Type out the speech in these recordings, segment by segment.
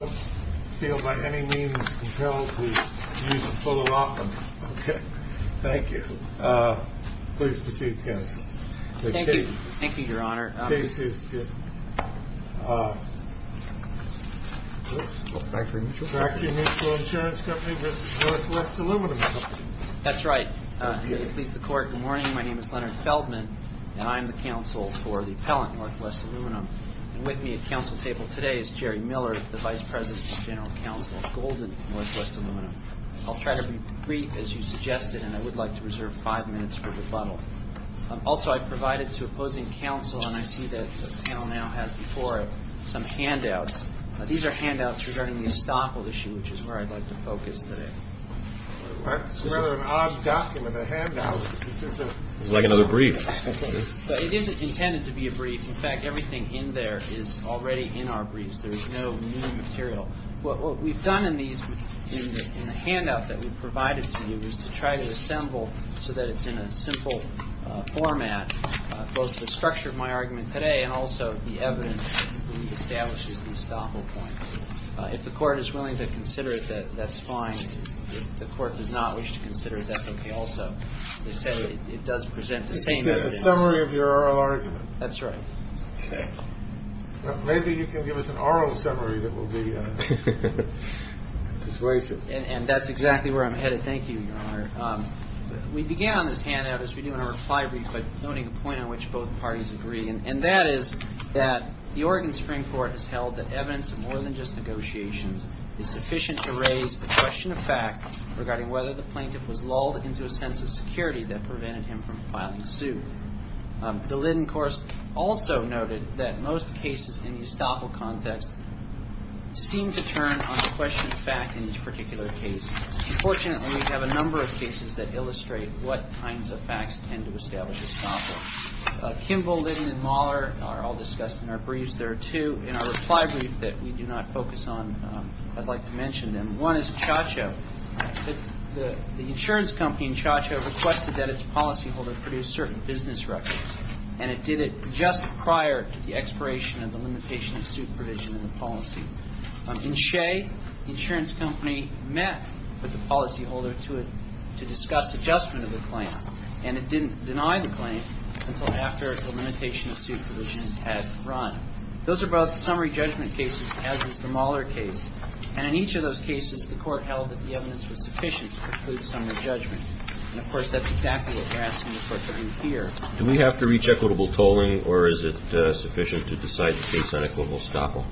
If you don't feel by any means compelled to use a photo option, okay, thank you. Please proceed, counsel. Thank you, Your Honor. The case is, uh, Franklin Mutual Insurance Company v. Northwest Aluminum Company. That's right. Good morning. My name is Leonard Feldman, and I'm the counsel for the appellant, Northwest Aluminum. And with me at counsel table today is Jerry Miller, the vice president of general counsel at Golden Northwest Aluminum. I'll try to be brief, as you suggested, and I would like to reserve five minutes for rebuttal. Also, I provided to opposing counsel, and I see that the panel now has before it, some handouts. These are handouts regarding the estoppel issue, which is where I'd like to focus today. That's rather an odd document, a handout. It's like another brief. But it isn't intended to be a brief. In fact, everything in there is already in our briefs. There is no new material. What we've done in these, in the handout that we've provided to you, is to try to assemble so that it's in a simple format, both the structure of my argument today and also the evidence that establishes the estoppel point. If the Court is willing to consider it, that's fine. If the Court does not wish to consider it, that's okay also. As I say, it does present the same evidence. It's a summary of your oral argument. That's right. Okay. Maybe you can give us an oral summary that will be persuasive. And that's exactly where I'm headed. Thank you, Your Honor. We began on this handout, as we do in our reply brief, by noting a point on which both parties agree, and that is that the Oregon Supreme Court has held that evidence in more than just negotiations is sufficient to raise the question of fact regarding whether the plaintiff was lulled into a sense of security that prevented him from filing a suit. The Linden Course also noted that most cases in the estoppel context seem to turn on the question of fact in each particular case. Unfortunately, we have a number of cases that illustrate what kinds of facts tend to establish estoppel. Kimball, Linden, and Mahler are all discussed in our briefs. There are two in our reply brief that we do not focus on, I'd like to mention them. One is Chacho. The insurance company in Chacho requested that its policyholder produce certain business records, and it did it just prior to the expiration of the limitation of suit provision in the policy. In Shea, the insurance company met with the policyholder to discuss adjustment of the claim, and it didn't deny the claim until after the limitation of suit provision had run. Those are both summary judgment cases, as is the Mahler case. And in each of those cases, the Court held that the evidence was sufficient to preclude summary judgment. And, of course, that's exactly what we're asking the Court to do here. Do we have to reach equitable tolling, or is it sufficient to decide the case on equitable estoppel?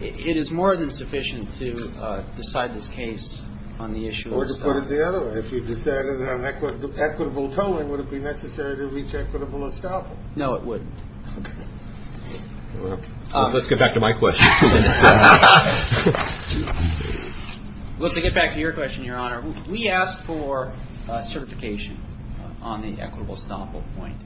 It is more than sufficient to decide this case on the issue of estoppel. Or to put it the other way, if you decided on equitable tolling, would it be necessary to reach equitable estoppel? No, it wouldn't. Let's get back to my question. Let's get back to your question, Your Honor. We asked for certification on the equitable estoppel point.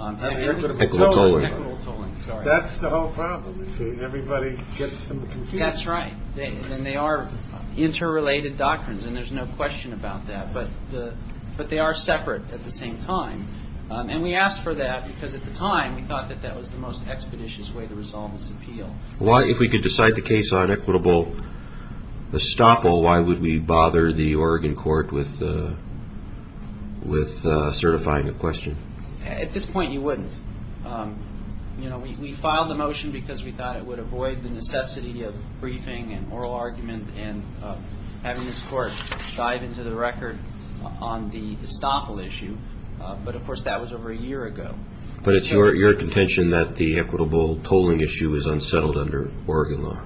Equitable tolling. Equitable tolling, sorry. That's the whole problem, you see. Everybody gets them at the computer. That's right. And they are interrelated doctrines, and there's no question about that. But they are separate at the same time. And we asked for that because, at the time, we thought that that was the most expeditious way to resolve this appeal. If we could decide the case on equitable estoppel, why would we bother the Oregon Court with certifying a question? At this point, you wouldn't. We filed the motion because we thought it would avoid the necessity of briefing and oral argument and having this Court dive into the record on the estoppel issue. But, of course, that was over a year ago. But it's your contention that the equitable tolling issue is unsettled under Oregon law.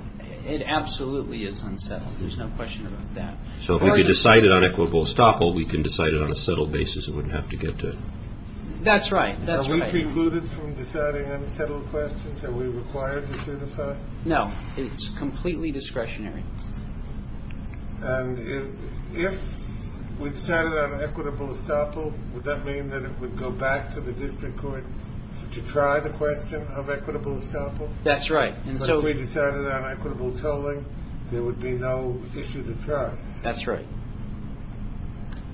It absolutely is unsettled. There's no question about that. So if we decided on equitable estoppel, we can decide it on a settled basis and wouldn't have to get to it. That's right. Are we precluded from deciding unsettled questions? Are we required to certify? No. It's completely discretionary. And if we decided on equitable estoppel, would that mean that it would go back to the district court to try the question of equitable estoppel? That's right. If we decided on equitable tolling, there would be no issue to try. That's right.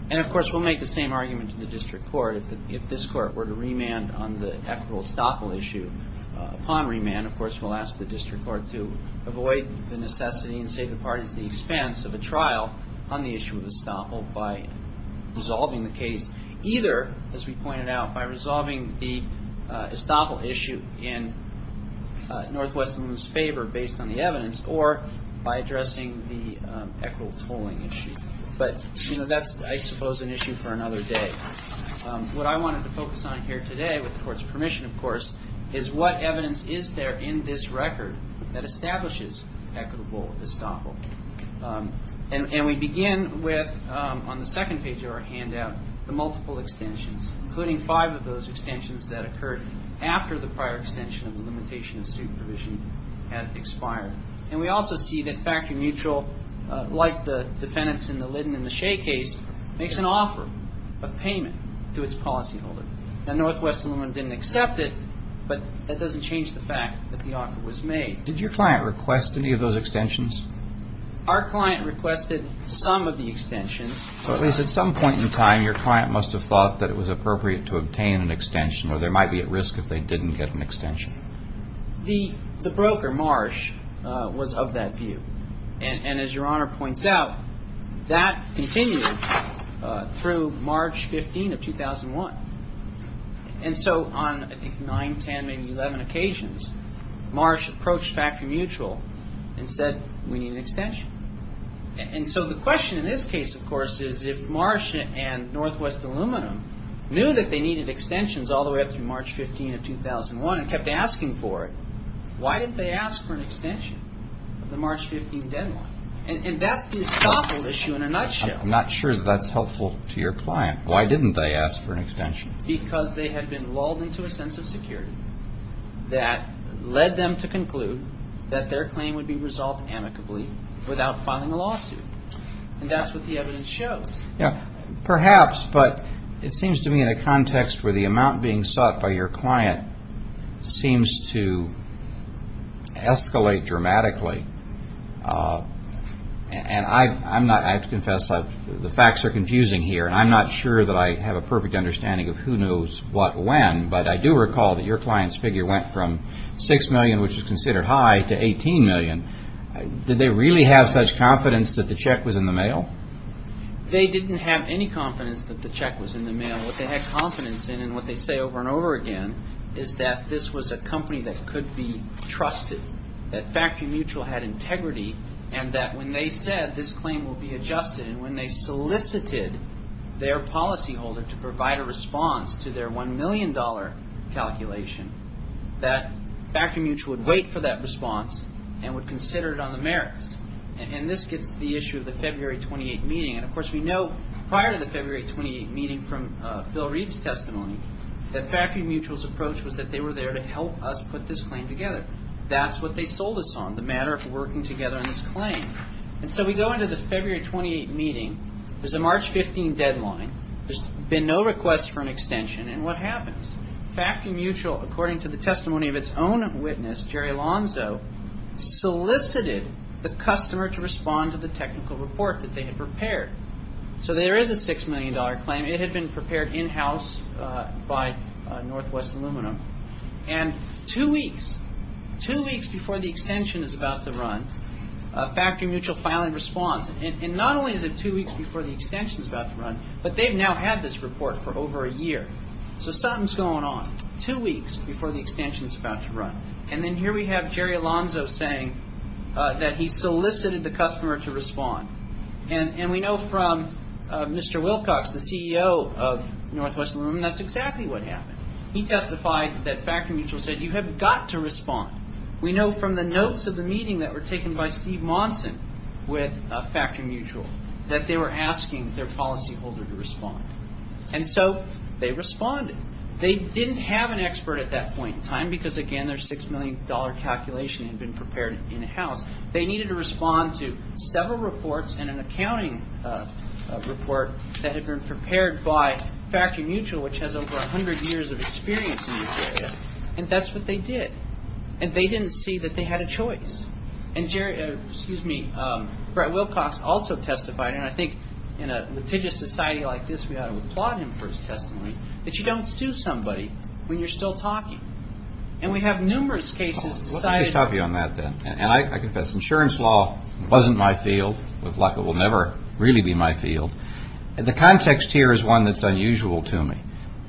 And, of course, we'll make the same argument to the district court. If this court were to remand on the equitable estoppel issue, upon remand, of course, we'll ask the district court to avoid the necessity and save the parties the expense of a trial on the issue of estoppel by resolving the case, either, as we pointed out, by resolving the estoppel issue in Northwestern's favor based on the evidence or by addressing the equitable tolling issue. But that's, I suppose, an issue for another day. What I wanted to focus on here today, with the court's permission, of course, is what evidence is there in this record that establishes equitable estoppel. And we begin with, on the second page of our handout, the multiple extensions, including five of those extensions that occurred after the prior extension of the limitation of student provision had expired. And we also see that Factory Mutual, like the defendants in the Liddon and the Shea case, makes an offer of payment to its policyholder. Now, Northwestern didn't accept it, but that doesn't change the fact that the offer was made. Did your client request any of those extensions? Our client requested some of the extensions. At least at some point in time, your client must have thought that it was appropriate to obtain an extension or there might be at risk if they didn't get an extension. The broker, Marsh, was of that view. And as Your Honor points out, that continued through March 15 of 2001. And so on, I think, 9, 10, maybe 11 occasions, Marsh approached Factory Mutual and said, we need an extension. And so the question in this case, of course, is if Marsh and Northwest Aluminum knew that they needed extensions all the way up to March 15 of 2001 and kept asking for it, why didn't they ask for an extension of the March 15 deadline? And that's the estoppel issue in a nutshell. I'm not sure that's helpful to your client. Why didn't they ask for an extension? Because they had been lulled into a sense of security that led them to conclude that their claim would be resolved amicably without filing a lawsuit. And that's what the evidence shows. Perhaps, but it seems to me in a context where the amount being sought by your client seems to escalate dramatically. And I have to confess, the facts are confusing here. And I'm not sure that I have a perfect understanding of who knows what when. But I do recall that your client's figure went from $6 million, which is considered high, to $18 million. Did they really have such confidence that the check was in the mail? They didn't have any confidence that the check was in the mail. What they had confidence in and what they say over and over again is that this was a company that could be trusted, that Factory Mutual had integrity, and that when they said this claim would be adjusted and when they solicited their policyholder to provide a response to their $1 million calculation, that Factory Mutual would wait for that response and would consider it on the merits. And this gets to the issue of the February 28th meeting. And, of course, we know prior to the February 28th meeting from Bill Reed's testimony, that Factory Mutual's approach was that they were there to help us put this claim together. That's what they sold us on, the matter of working together on this claim. And so we go into the February 28th meeting. There's a March 15th deadline. There's been no request for an extension. And what happens? Factory Mutual, according to the testimony of its own witness, Jerry Lonzo, solicited the customer to respond to the technical report that they had prepared. So there is a $6 million claim. It had been prepared in-house by Northwest Aluminum. And two weeks, two weeks before the extension is about to run, Factory Mutual finally responds. And not only is it two weeks before the extension is about to run, but they've now had this report for over a year. So something's going on two weeks before the extension is about to run. And then here we have Jerry Lonzo saying that he solicited the customer to respond. And we know from Mr. Wilcox, the CEO of Northwest Aluminum, that's exactly what happened. He testified that Factory Mutual said, You have got to respond. We know from the notes of the meeting that were taken by Steve Monson with Factory Mutual that they were asking their policyholder to respond. And so they responded. They didn't have an expert at that point in time because, again, their $6 million calculation had been prepared in-house. They needed to respond to several reports and an accounting report that had been prepared by Factory Mutual, which has over 100 years of experience in this area. And that's what they did. And they didn't see that they had a choice. And Jerry, excuse me, Brett Wilcox also testified, and I think in a litigious society like this we ought to applaud him for his testimony, that you don't sue somebody when you're still talking. And we have numerous cases decided. Let me just top you on that then. And I confess, insurance law wasn't my field. With luck, it will never really be my field. The context here is one that's unusual to me.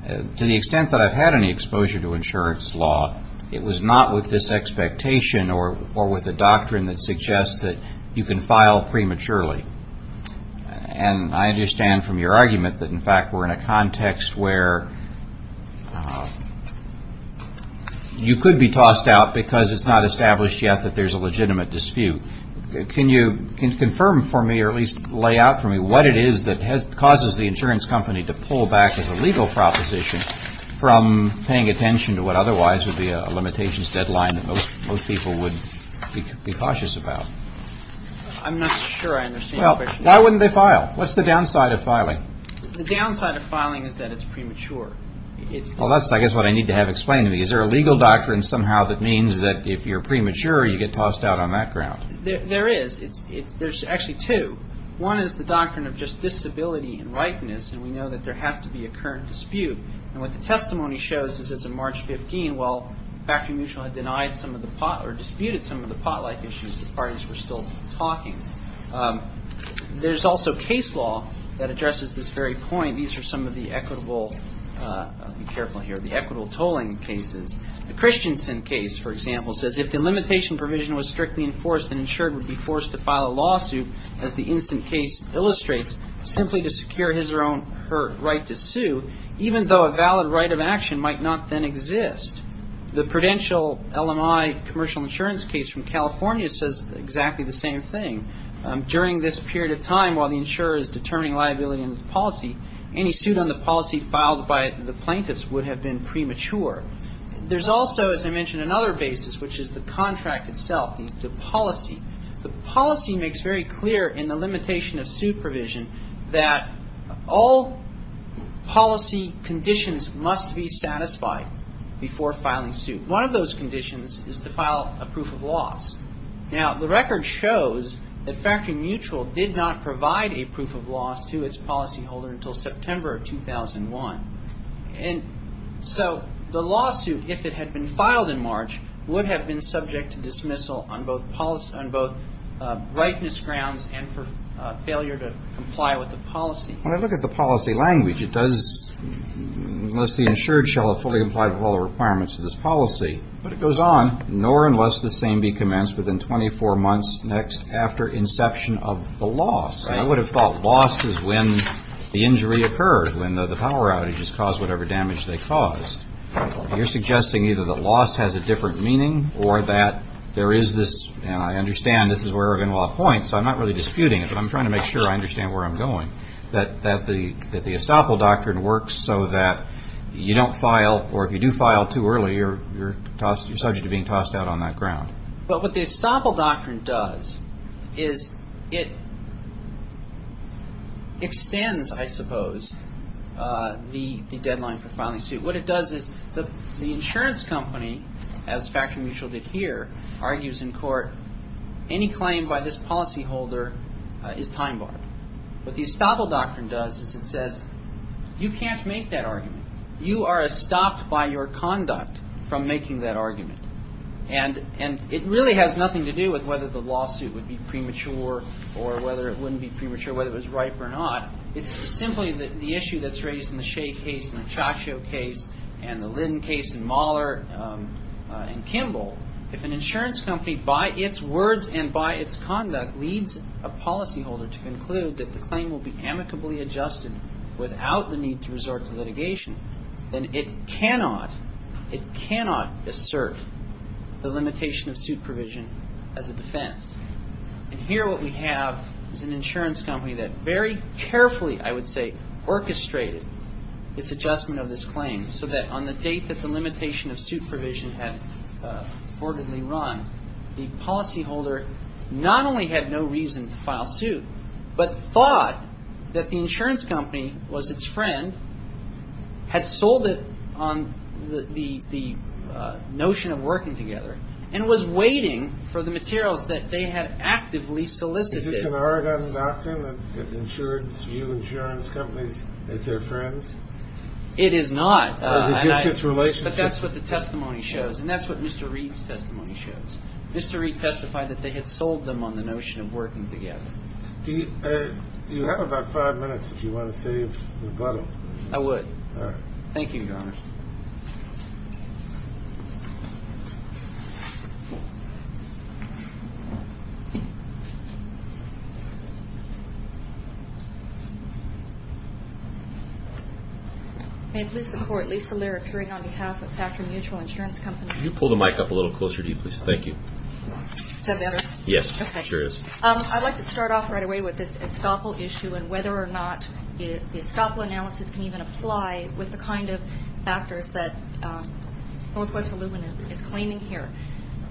To the extent that I've had any exposure to insurance law, it was not with this expectation or with a doctrine that suggests that you can file prematurely. And I understand from your argument that, in fact, we're in a context where you could be tossed out because it's not established yet that there's a legitimate dispute. Can you confirm for me, or at least lay out for me, what it is that causes the insurance company to pull back as a legal proposition from paying attention to what otherwise would be a limitations deadline that most people would be cautious about? I'm not sure I understand your question. Why wouldn't they file? What's the downside of filing? The downside of filing is that it's premature. Well, that's, I guess, what I need to have explained to me. Is there a legal doctrine somehow that means that if you're premature, you get tossed out on that ground? There is. There's actually two. One is the doctrine of just disability and rightness. And we know that there has to be a current dispute. And what the testimony shows is that it's a March 15. Well, Factory Mutual had denied some of the pot, or disputed some of the pot-like issues. The parties were still talking. There's also case law that addresses this very point. These are some of the equitable, I'll be careful here, the equitable tolling cases. The Christensen case, for example, says if the limitation provision was strictly enforced, an insurer would be forced to file a lawsuit, as the instant case illustrates, simply to secure his or her right to sue, even though a valid right of action might not then exist. The Prudential LMI commercial insurance case from California says exactly the same thing. During this period of time, while the insurer is determining liability in the policy, any suit on the policy filed by the plaintiffs would have been premature. There's also, as I mentioned, another basis, which is the contract itself, the policy. The policy makes very clear in the limitation of suit provision that all policy conditions must be satisfied before filing suit. One of those conditions is to file a proof of loss. Now, the record shows that Factory Mutual did not provide a proof of loss to its policyholder until September of 2001. And so the lawsuit, if it had been filed in March, would have been subject to dismissal on both rightness grounds and for failure to comply with the policy. When I look at the policy language, it does, unless the insured shall have fully complied with all the requirements of this policy, but it goes on, nor unless the same be commenced within 24 months next after inception of the loss. And I would have thought loss is when the injury occurred, when the power outage has caused whatever damage they caused. You're suggesting either that loss has a different meaning or that there is this, and I understand this is where Ervin will appoint, so I'm not really disputing it, but I'm trying to make sure I understand where I'm going, that the estoppel doctrine works so that you don't file, or if you do file too early, you're subject to being tossed out on that ground. But what the estoppel doctrine does is it extends, I suppose, the deadline for filing suit. What it does is the insurance company, as Factory Mutual did here, argues in court, any claim by this policyholder is time-barred. What the estoppel doctrine does is it says you can't make that argument. You are estopped by your conduct from making that argument. And it really has nothing to do with whether the lawsuit would be premature or whether it wouldn't be premature, whether it was ripe or not. It's simply the issue that's raised in the Shea case and the Ciaccio case and the Linn case and Mahler and Kimball. If an insurance company, by its words and by its conduct, leads a policyholder to conclude that the claim will be amicably adjusted without the need to resort to litigation, then it cannot assert the limitation of suit provision as a defense. And here what we have is an insurance company that very carefully, I would say, orchestrated its adjustment of this claim so that on the date that the limitation of suit provision had reportedly run, the policyholder not only had no reason to file suit but thought that the insurance company was its friend, had sold it on the notion of working together, and was waiting for the materials that they had actively solicited. Is this an Oregon doctrine that you insurance companies as their friends? It is not. But that's what the testimony shows, and that's what Mr. Reed's testimony shows. Mr. Reed testified that they had sold them on the notion of working together. Do you have about five minutes, if you want to save a little? I would. All right. Thank you, Your Honor. May it please the Court, Lisa Laird appearing on behalf of Factor Mutual Insurance Company. Can you pull the mic up a little closer to you, please? Thank you. Is that better? Yes, it sure is. I'd like to start off right away with this estoppel issue and whether or not the estoppel analysis can even apply with the kind of factors that Northwest Illumina is claiming here.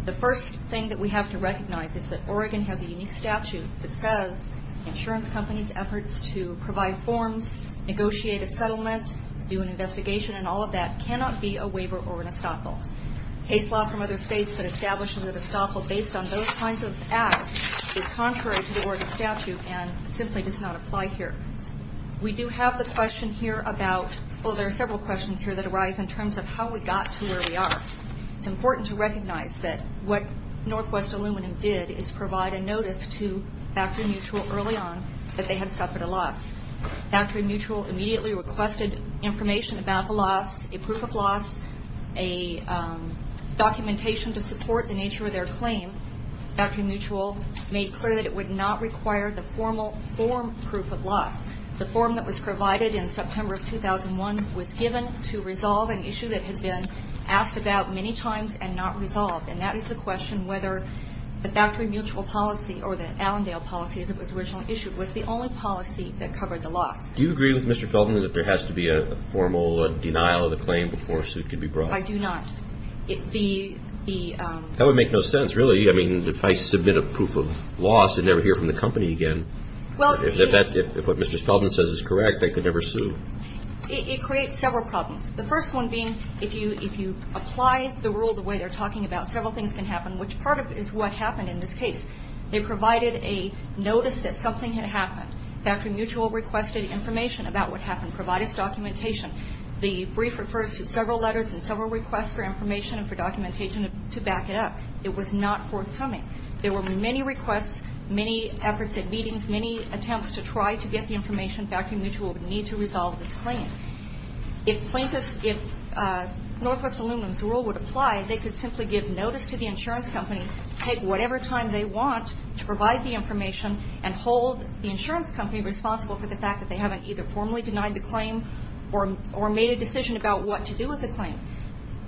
The first thing that we have to recognize is that Oregon has a unique statute that says insurance companies' efforts to provide forms, negotiate a settlement, do an investigation and all of that cannot be a waiver or an estoppel. Case law from other states that establishes that estoppel based on those kinds of acts is contrary to the Oregon statute and simply does not apply here. We do have the question here about, well, there are several questions here that arise in terms of how we got to where we are. It's important to recognize that what Northwest Illumina did is provide a notice to Factory Mutual early on that they had suffered a loss. Factory Mutual immediately requested information about the loss, a proof of loss, a documentation to support the nature of their claim. Factory Mutual made clear that it would not require the formal form proof of loss. The form that was provided in September of 2001 was given to resolve an issue that had been asked about many times and not resolved, and that is the question whether the Factory Mutual policy or the Allendale policy as it was originally issued was the only policy that covered the loss. Do you agree with Mr. Feldman that there has to be a formal denial of the claim before a suit can be brought? I do not. That would make no sense, really. I mean, if I submit a proof of loss and never hear from the company again, if what Mr. Feldman says is correct, I could never sue. It creates several problems. The first one being if you apply the rule the way they're talking about, several things can happen, which part of it is what happened in this case. They provided a notice that something had happened. Factory Mutual requested information about what happened, provided documentation. The brief refers to several letters and several requests for information and for documentation to back it up. It was not forthcoming. There were many requests, many efforts at meetings, many attempts to try to get the information. Factory Mutual would need to resolve this claim. If Northwest Aluminum's rule would apply, they could simply give notice to the insurance company, take whatever time they want to provide the information and hold the insurance company responsible for the fact that they haven't either formally denied the claim or made a decision about what to do with the claim.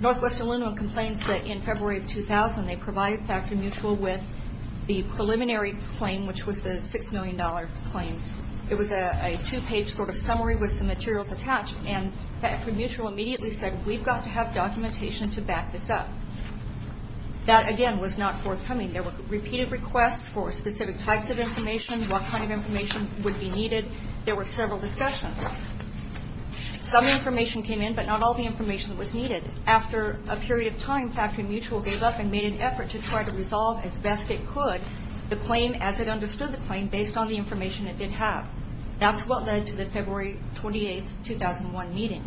Northwest Aluminum complains that in February of 2000, they provided Factory Mutual with the preliminary claim, which was the $6 million claim. It was a two-page sort of summary with some materials attached, and Factory Mutual immediately said, we've got to have documentation to back this up. That, again, was not forthcoming. There were repeated requests for specific types of information, what kind of information would be needed. There were several discussions. Some information came in, but not all the information was needed. After a period of time, Factory Mutual gave up and made an effort to try to resolve, as best it could, the claim as it understood the claim, based on the information it did have. That's what led to the February 28, 2001 meeting.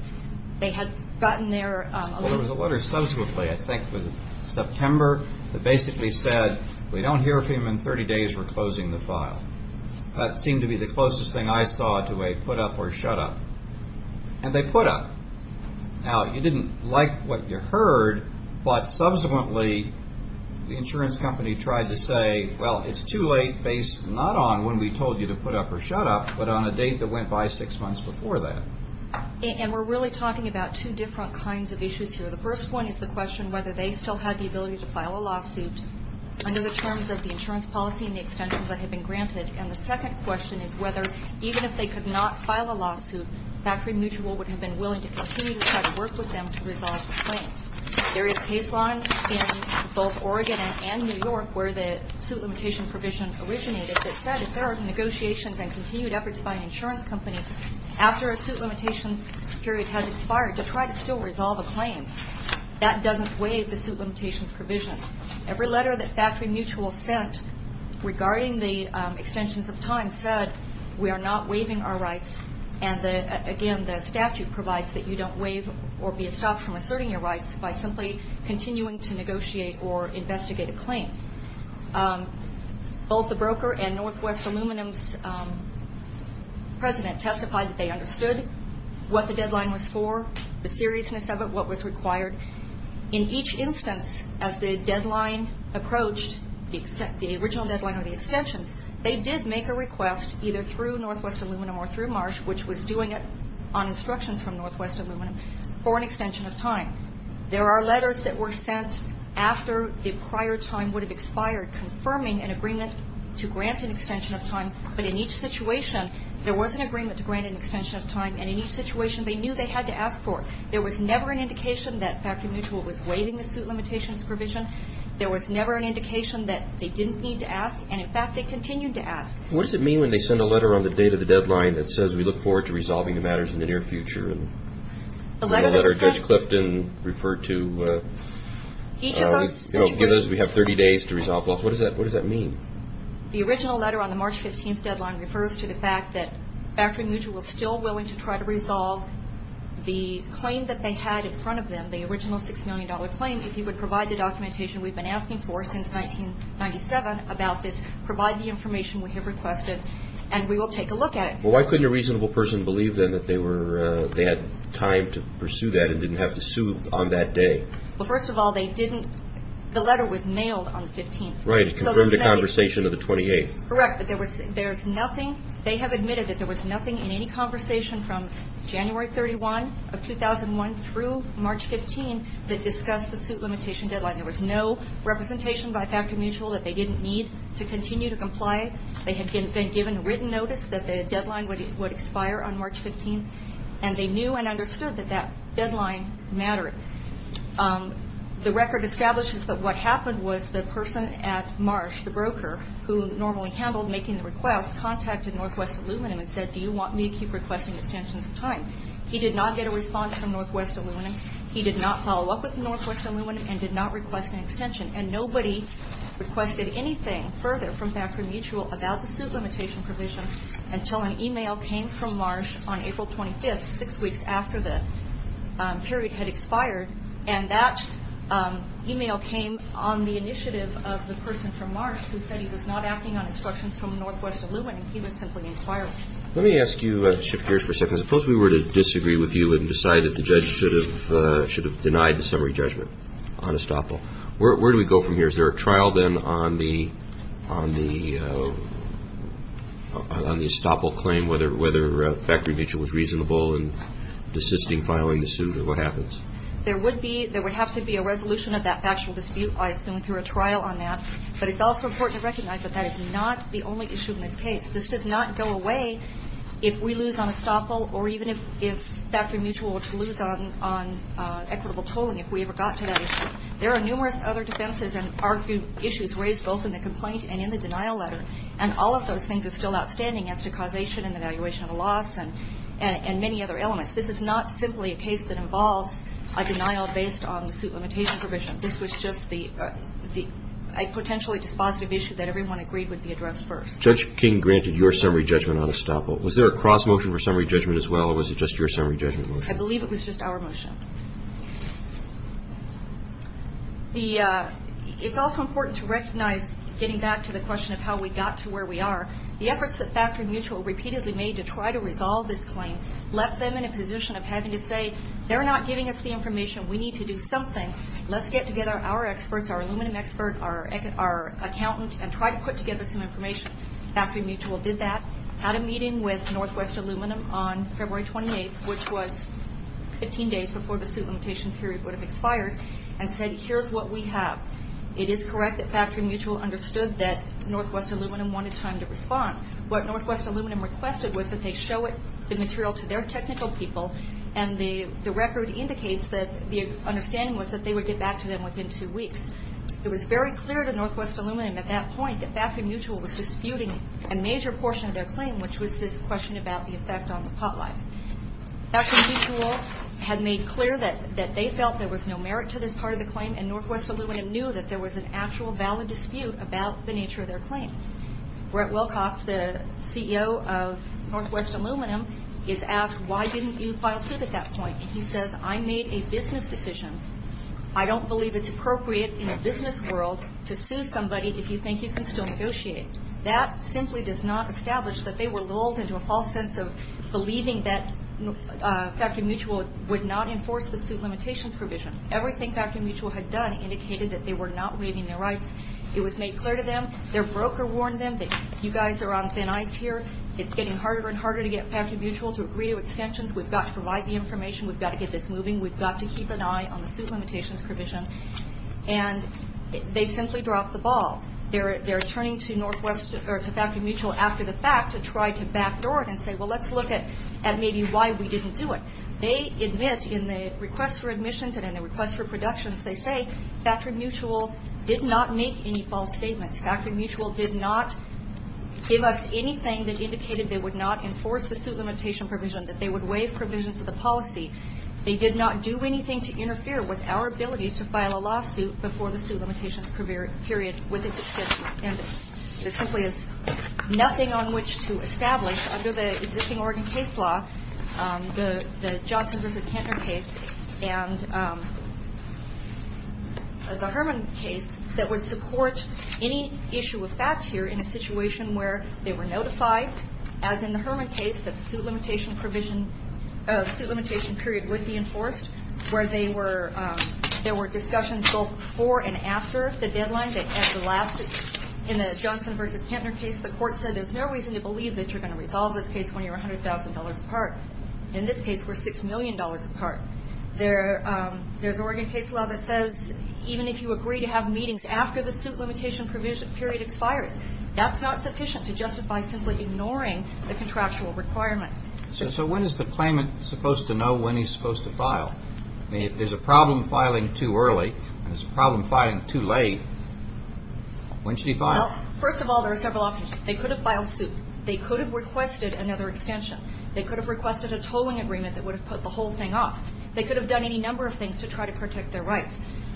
They had gotten their... Well, there was a letter subsequently, I think it was September, that basically said, we don't hear from you in 30 days, we're closing the file. That seemed to be the closest thing I saw to a put up or shut up. And they put up. Now, you didn't like what you heard, but subsequently the insurance company tried to say, well, it's too late based not on when we told you to put up or shut up, but on a date that went by six months before that. And we're really talking about two different kinds of issues here. The first one is the question whether they still had the ability to file a lawsuit under the terms of the insurance policy and the extensions that had been granted. And the second question is whether, even if they could not file a lawsuit, Factory Mutual would have been willing to continue to try to work with them to resolve the claim. There is case law in both Oregon and New York where the suit limitation provision originated that said if there are negotiations and continued efforts by an insurance company after a suit limitations period has expired to try to still resolve a claim, that doesn't waive the suit limitations provision. Every letter that Factory Mutual sent regarding the extensions of time said we are not waiving our rights. And again, the statute provides that you don't waive or be stopped from asserting your rights by simply continuing to negotiate or investigate a claim. Both the broker and Northwest Aluminum's president testified that they understood what the deadline was for, the seriousness of it, what was required. In each instance, as the deadline approached, the original deadline or the extensions, they did make a request, either through Northwest Aluminum or through Marsh, which was doing it on instructions from Northwest Aluminum, for an extension of time. There are letters that were sent after the prior time would have expired confirming an agreement to grant an extension of time. But in each situation, there was an agreement to grant an extension of time. And in each situation, they knew they had to ask for it. There was never an indication that Factory Mutual was waiving the suit limitations provision. There was never an indication that they didn't need to ask. And in fact, they continued to ask. What does it mean when they send a letter on the date of the deadline that says we look forward to resolving the matters in the near future? The letter that was sent... The letter Judge Clifton referred to. Each of those... You know, we have 30 days to resolve both. What does that mean? The original letter on the March 15th deadline refers to the fact that Factory Mutual is still willing to try to resolve the claim that they had in front of them, the original $6 million claim, if you would provide the documentation we've been asking for since 1997 about this, provide the information we have requested, and we will take a look at it. Well, why couldn't a reasonable person believe, then, that they had time to pursue that and didn't have to sue on that day? Well, first of all, they didn't... The letter was mailed on the 15th. Right, it confirmed the conversation of the 28th. Correct, but there's nothing... There was no written conversation from January 31 of 2001 through March 15 that discussed the suit limitation deadline. There was no representation by Factory Mutual that they didn't need to continue to comply. They had been given written notice that the deadline would expire on March 15th, and they knew and understood that that deadline mattered. The record establishes that what happened was the person at Marsh, the broker, who normally handled making the request, contacted Northwest Aluminum and said, do you want me to keep requesting extensions of time? He did not get a response from Northwest Aluminum. He did not follow up with Northwest Aluminum and did not request an extension. And nobody requested anything further from Factory Mutual about the suit limitation provision until an email came from Marsh on April 25th, six weeks after the period had expired. And that email came on the initiative of the person from Marsh who said he was not acting on instructions from Northwest Aluminum. He was simply inquiring. Let me ask you to shift gears for a second. Suppose we were to disagree with you and decide that the judge should have denied the summary judgment on estoppel. Where do we go from here? Is there a trial then on the estoppel claim, whether Factory Mutual was reasonable in desisting filing the suit? What happens? There would have to be a resolution of that factual dispute, I assume, through a trial on that. But it's also important to recognize that that is not the only issue in this case. This does not go away if we lose on estoppel or even if Factory Mutual were to lose on equitable tolling if we ever got to that issue. There are numerous other defenses and argued issues raised both in the complaint and in the denial letter, and all of those things are still outstanding as to causation and evaluation of a loss and many other elements. This is not simply a case that involves a denial based on the suit limitation provision. This was just the potentially dispositive issue that everyone agreed would be addressed first. Judge King granted your summary judgment on estoppel. Was there a cross-motion for summary judgment as well, or was it just your summary judgment motion? I believe it was just our motion. It's also important to recognize, getting back to the question of how we got to where we are, the efforts that Factory Mutual repeatedly made to try to resolve this claim left them in a position of having to say, They're not giving us the information. We need to do something. Let's get together our experts, our aluminum expert, our accountant, and try to put together some information. Factory Mutual did that, had a meeting with Northwest Aluminum on February 28th, which was 15 days before the suit limitation period would have expired, and said, Here's what we have. It is correct that Factory Mutual understood that Northwest Aluminum wanted time to respond. What Northwest Aluminum requested was that they show the material to their technical people and the record indicates that the understanding was that they would get back to them within two weeks. It was very clear to Northwest Aluminum at that point that Factory Mutual was disputing a major portion of their claim, which was this question about the effect on the pot life. Factory Mutual had made clear that they felt there was no merit to this part of the claim, and Northwest Aluminum knew that there was an actual valid dispute about the nature of their claim. Brett Wilcox, the CEO of Northwest Aluminum, is asked, Why didn't you file suit at that point? And he says, I made a business decision. I don't believe it's appropriate in a business world to sue somebody if you think you can still negotiate. That simply does not establish that they were lulled into a false sense of believing that Factory Mutual would not enforce the suit limitations provision. Everything Factory Mutual had done indicated that they were not waiving their rights. It was made clear to them. Their broker warned them that you guys are on thin ice here. It's getting harder and harder to get Factory Mutual to agree to extensions. We've got to provide the information. We've got to get this moving. We've got to keep an eye on the suit limitations provision. And they simply dropped the ball. They're turning to Factory Mutual after the fact to try to backdoor it and say, Well, let's look at maybe why we didn't do it. They admit in the request for admissions and in the request for productions, they say Factory Mutual did not make any false statements. Factory Mutual did not give us anything that indicated they would not enforce the suit limitation provision, that they would waive provisions of the policy. They did not do anything to interfere with our ability to file a lawsuit before the suit limitations period with its extension. And there simply is nothing on which to establish under the existing Oregon case law, the Johnson v. Kintner case and the Herman case, that would support any issue of fact here in a situation where they were notified, as in the Herman case, that the suit limitation period would be enforced, where there were discussions both before and after the deadline. In the Johnson v. Kintner case, the court said there's no reason to believe that you're going to resolve this case when you're $100,000 apart. In this case, we're $6 million apart. There's Oregon case law that says even if you agree to have meetings after the suit limitation period expires, that's not sufficient to justify simply ignoring the contractual requirement. So when is the claimant supposed to know when he's supposed to file? I mean, if there's a problem filing too early and there's a problem filing too late, when should he file? Well, first of all, there are several options. They could have filed soon. They could have requested another extension. They could have requested a tolling agreement that would have put the whole thing off. They could have done any number of things to try to protect their rights.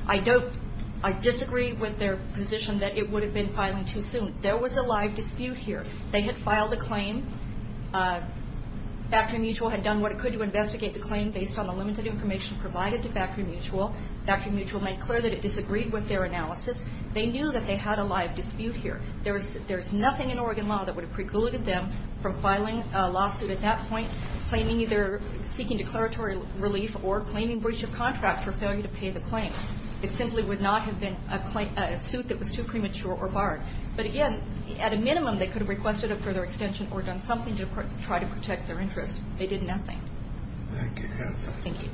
I disagree with their position that it would have been filing too soon. There was a live dispute here. They had filed a claim. Factory Mutual had done what it could to investigate the claim based on the limited information provided to Factory Mutual. Factory Mutual made clear that it disagreed with their analysis. They knew that they had a live dispute here. There's nothing in Oregon law that would have precluded them from filing a lawsuit at that point, claiming either seeking declaratory relief or claiming breach of contract for failure to pay the claim. It simply would not have been a suit that was too premature or barred. But, again, at a minimum, they could have requested a further extension or done something to try to protect their interests. They did nothing. Thank you. Thank you.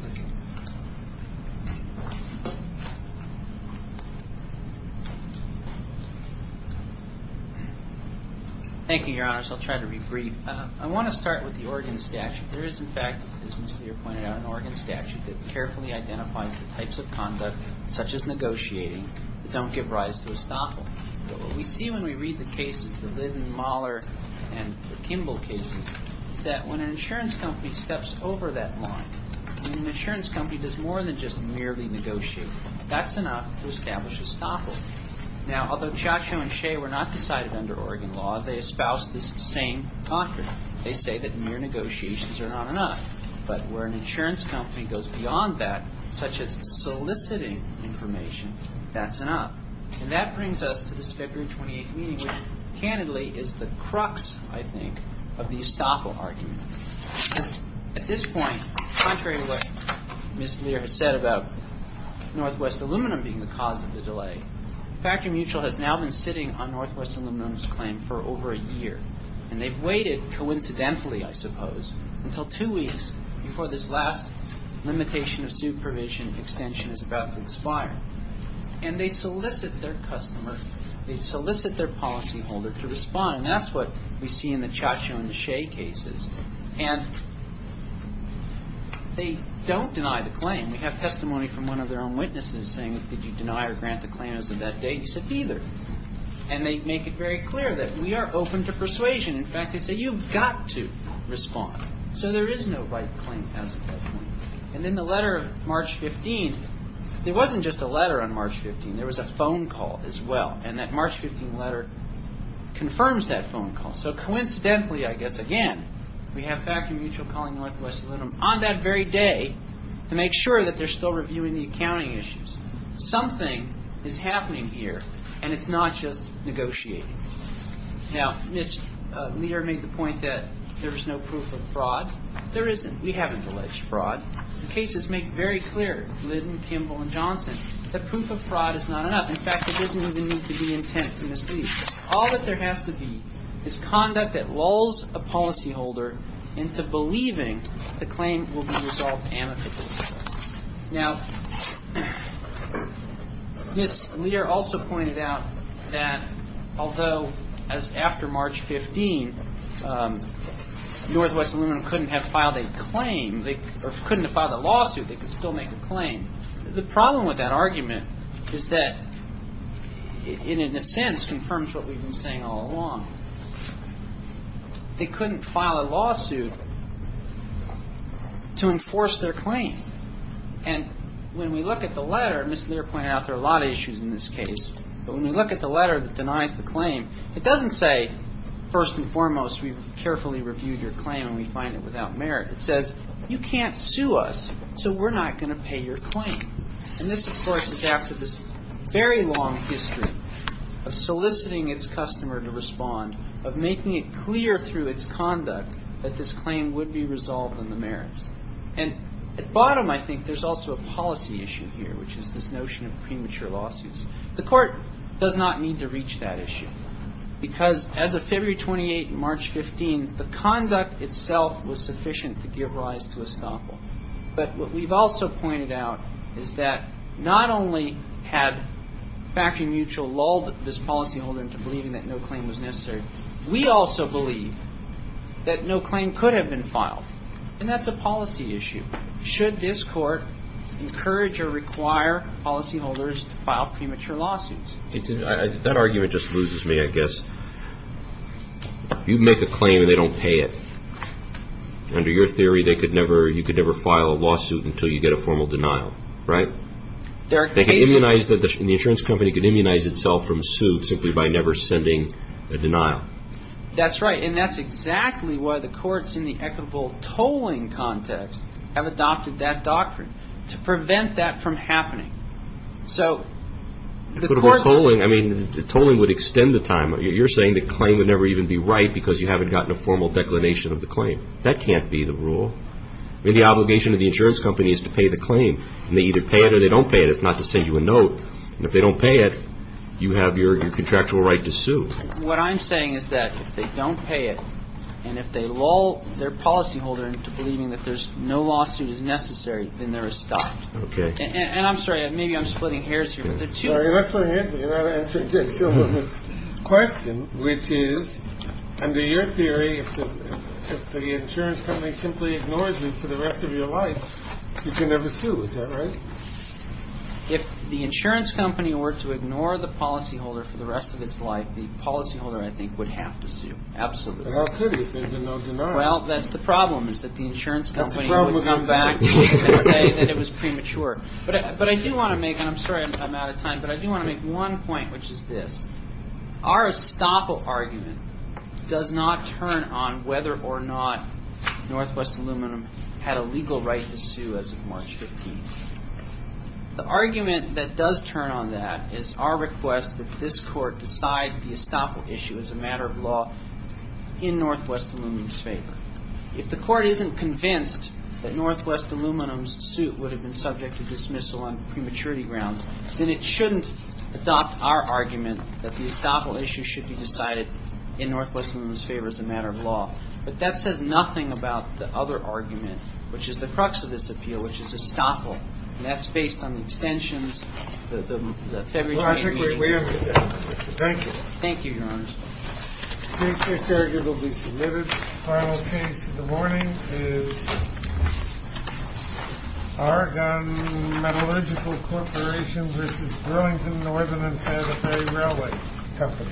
Thank you, Your Honors. I'll try to be brief. I want to start with the Oregon statute. There is, in fact, as Mr. Lear pointed out, an Oregon statute that carefully identifies the types of conduct, such as negotiating, that don't give rise to estoppel. But what we see when we read the cases, the Liddon, Mahler, and the Kimball cases, is that when an insurance company steps over that line, when an insurance company does more than just merely negotiate, that's enough to establish estoppel. Now, although Ciaccio and Shea were not decided under Oregon law, they espouse this same doctrine. They say that mere negotiations are not enough. But where an insurance company goes beyond that, such as soliciting information, that's enough. And that brings us to this February 28th meeting, which, candidly, is the crux, I think, of the estoppel argument. At this point, contrary to what Mr. Lear has said about Northwest Aluminum being the cause of the delay, Factor Mutual has now been sitting on Northwest Aluminum's claim for over a year. And they've waited, coincidentally, I suppose, until two weeks before this last limitation of supervision extension is about to expire. And they solicit their customer. They solicit their policyholder to respond. And that's what we see in the Ciaccio and Shea cases. And they don't deny the claim. We have testimony from one of their own witnesses saying, did you deny or grant the claim as of that date? He said, neither. And they make it very clear that we are open to persuasion. In fact, they say, you've got to respond. So there is no right claim as of that point. And in the letter of March 15th, there wasn't just a letter on March 15th. There was a phone call as well. And that March 15th letter confirms that phone call. So coincidentally, I guess, again, we have Factor Mutual calling Northwest Aluminum on that very day to make sure that they're still reviewing the accounting issues. Something is happening here, and it's not just negotiating. Now, Mr. Lear made the point that there is no proof of fraud. There isn't. We haven't alleged fraud. The cases make very clear, Lidden, Kimball, and Johnson, that proof of fraud is not enough. In fact, there doesn't even need to be intent to mislead. All that there has to be is conduct that lulls a policyholder into believing the claim will be resolved amicably. Now, Ms. Lear also pointed out that although as after March 15th, Northwest Aluminum couldn't have filed a claim, or couldn't have filed a lawsuit, they could still make a claim. The problem with that argument is that it, in a sense, confirms what we've been saying all along. They couldn't file a lawsuit to enforce their claim. And when we look at the letter, Ms. Lear pointed out there are a lot of issues in this case, but when we look at the letter that denies the claim, it doesn't say, first and foremost, we've carefully reviewed your claim and we find it without merit. It says, you can't sue us, so we're not going to pay your claim. And this, of course, is after this very long history of soliciting its customer to respond, of making it clear through its conduct that this claim would be resolved on the merits. And at bottom, I think, there's also a policy issue here, which is this notion of premature lawsuits. The Court does not need to reach that issue, because as of February 28th and March 15th, the conduct itself was sufficient to give rise to estoppel. But what we've also pointed out is that not only had Factory Mutual lulled this policyholder into believing that no claim was necessary, we also believe that no claim could have been filed. And that's a policy issue. Should this Court encourage or require policyholders to file premature lawsuits? That argument just loses me, I guess. You make a claim and they don't pay it. Under your theory, you could never file a lawsuit until you get a formal denial, right? The insurance company could immunize itself from suit simply by never sending a denial. That's right, and that's exactly why the courts in the equitable tolling context have adopted that doctrine, to prevent that from happening. I mean, the tolling would extend the time. You're saying the claim would never even be right because you haven't gotten a formal declination of the claim. That can't be the rule. I mean, the obligation of the insurance company is to pay the claim, and they either pay it or they don't pay it. It's not to send you a note. And if they don't pay it, you have your contractual right to sue. What I'm saying is that if they don't pay it, and if they lull their policyholder into believing that no lawsuit is necessary, then there is stop. Okay. And I'm sorry, maybe I'm splitting hairs here. You're not splitting hairs. You're not answering Dick's question, which is, under your theory, if the insurance company simply ignores you for the rest of your life, you can never sue. Is that right? If the insurance company were to ignore the policyholder for the rest of its life, the policyholder, I think, would have to sue. Absolutely. And how could he if there had been no denial? Well, that's the problem, is that the insurance company would come back and say that it was premature. But I do want to make, and I'm sorry I'm out of time, but I do want to make one point, which is this. Our estoppel argument does not turn on whether or not Northwest Aluminum had a legal right to sue as of March 15th. The argument that does turn on that is our request that this court decide the estoppel issue as a matter of law in Northwest Aluminum's favor. If the court isn't convinced that Northwest Aluminum's suit would have been subject to dismissal on prematurity grounds, then it shouldn't adopt our argument that the estoppel issue should be decided in Northwest Aluminum's favor as a matter of law. But that says nothing about the other argument, which is the crux of this appeal, which is estoppel. And that's based on the extensions, the February 28th meeting. Thank you. Thank you, Your Honors. State case argument will be submitted. Final case of the morning is Oregon Metallurgical Corporation versus Burlington Northern and Santa Fe Railway Company. Thank you.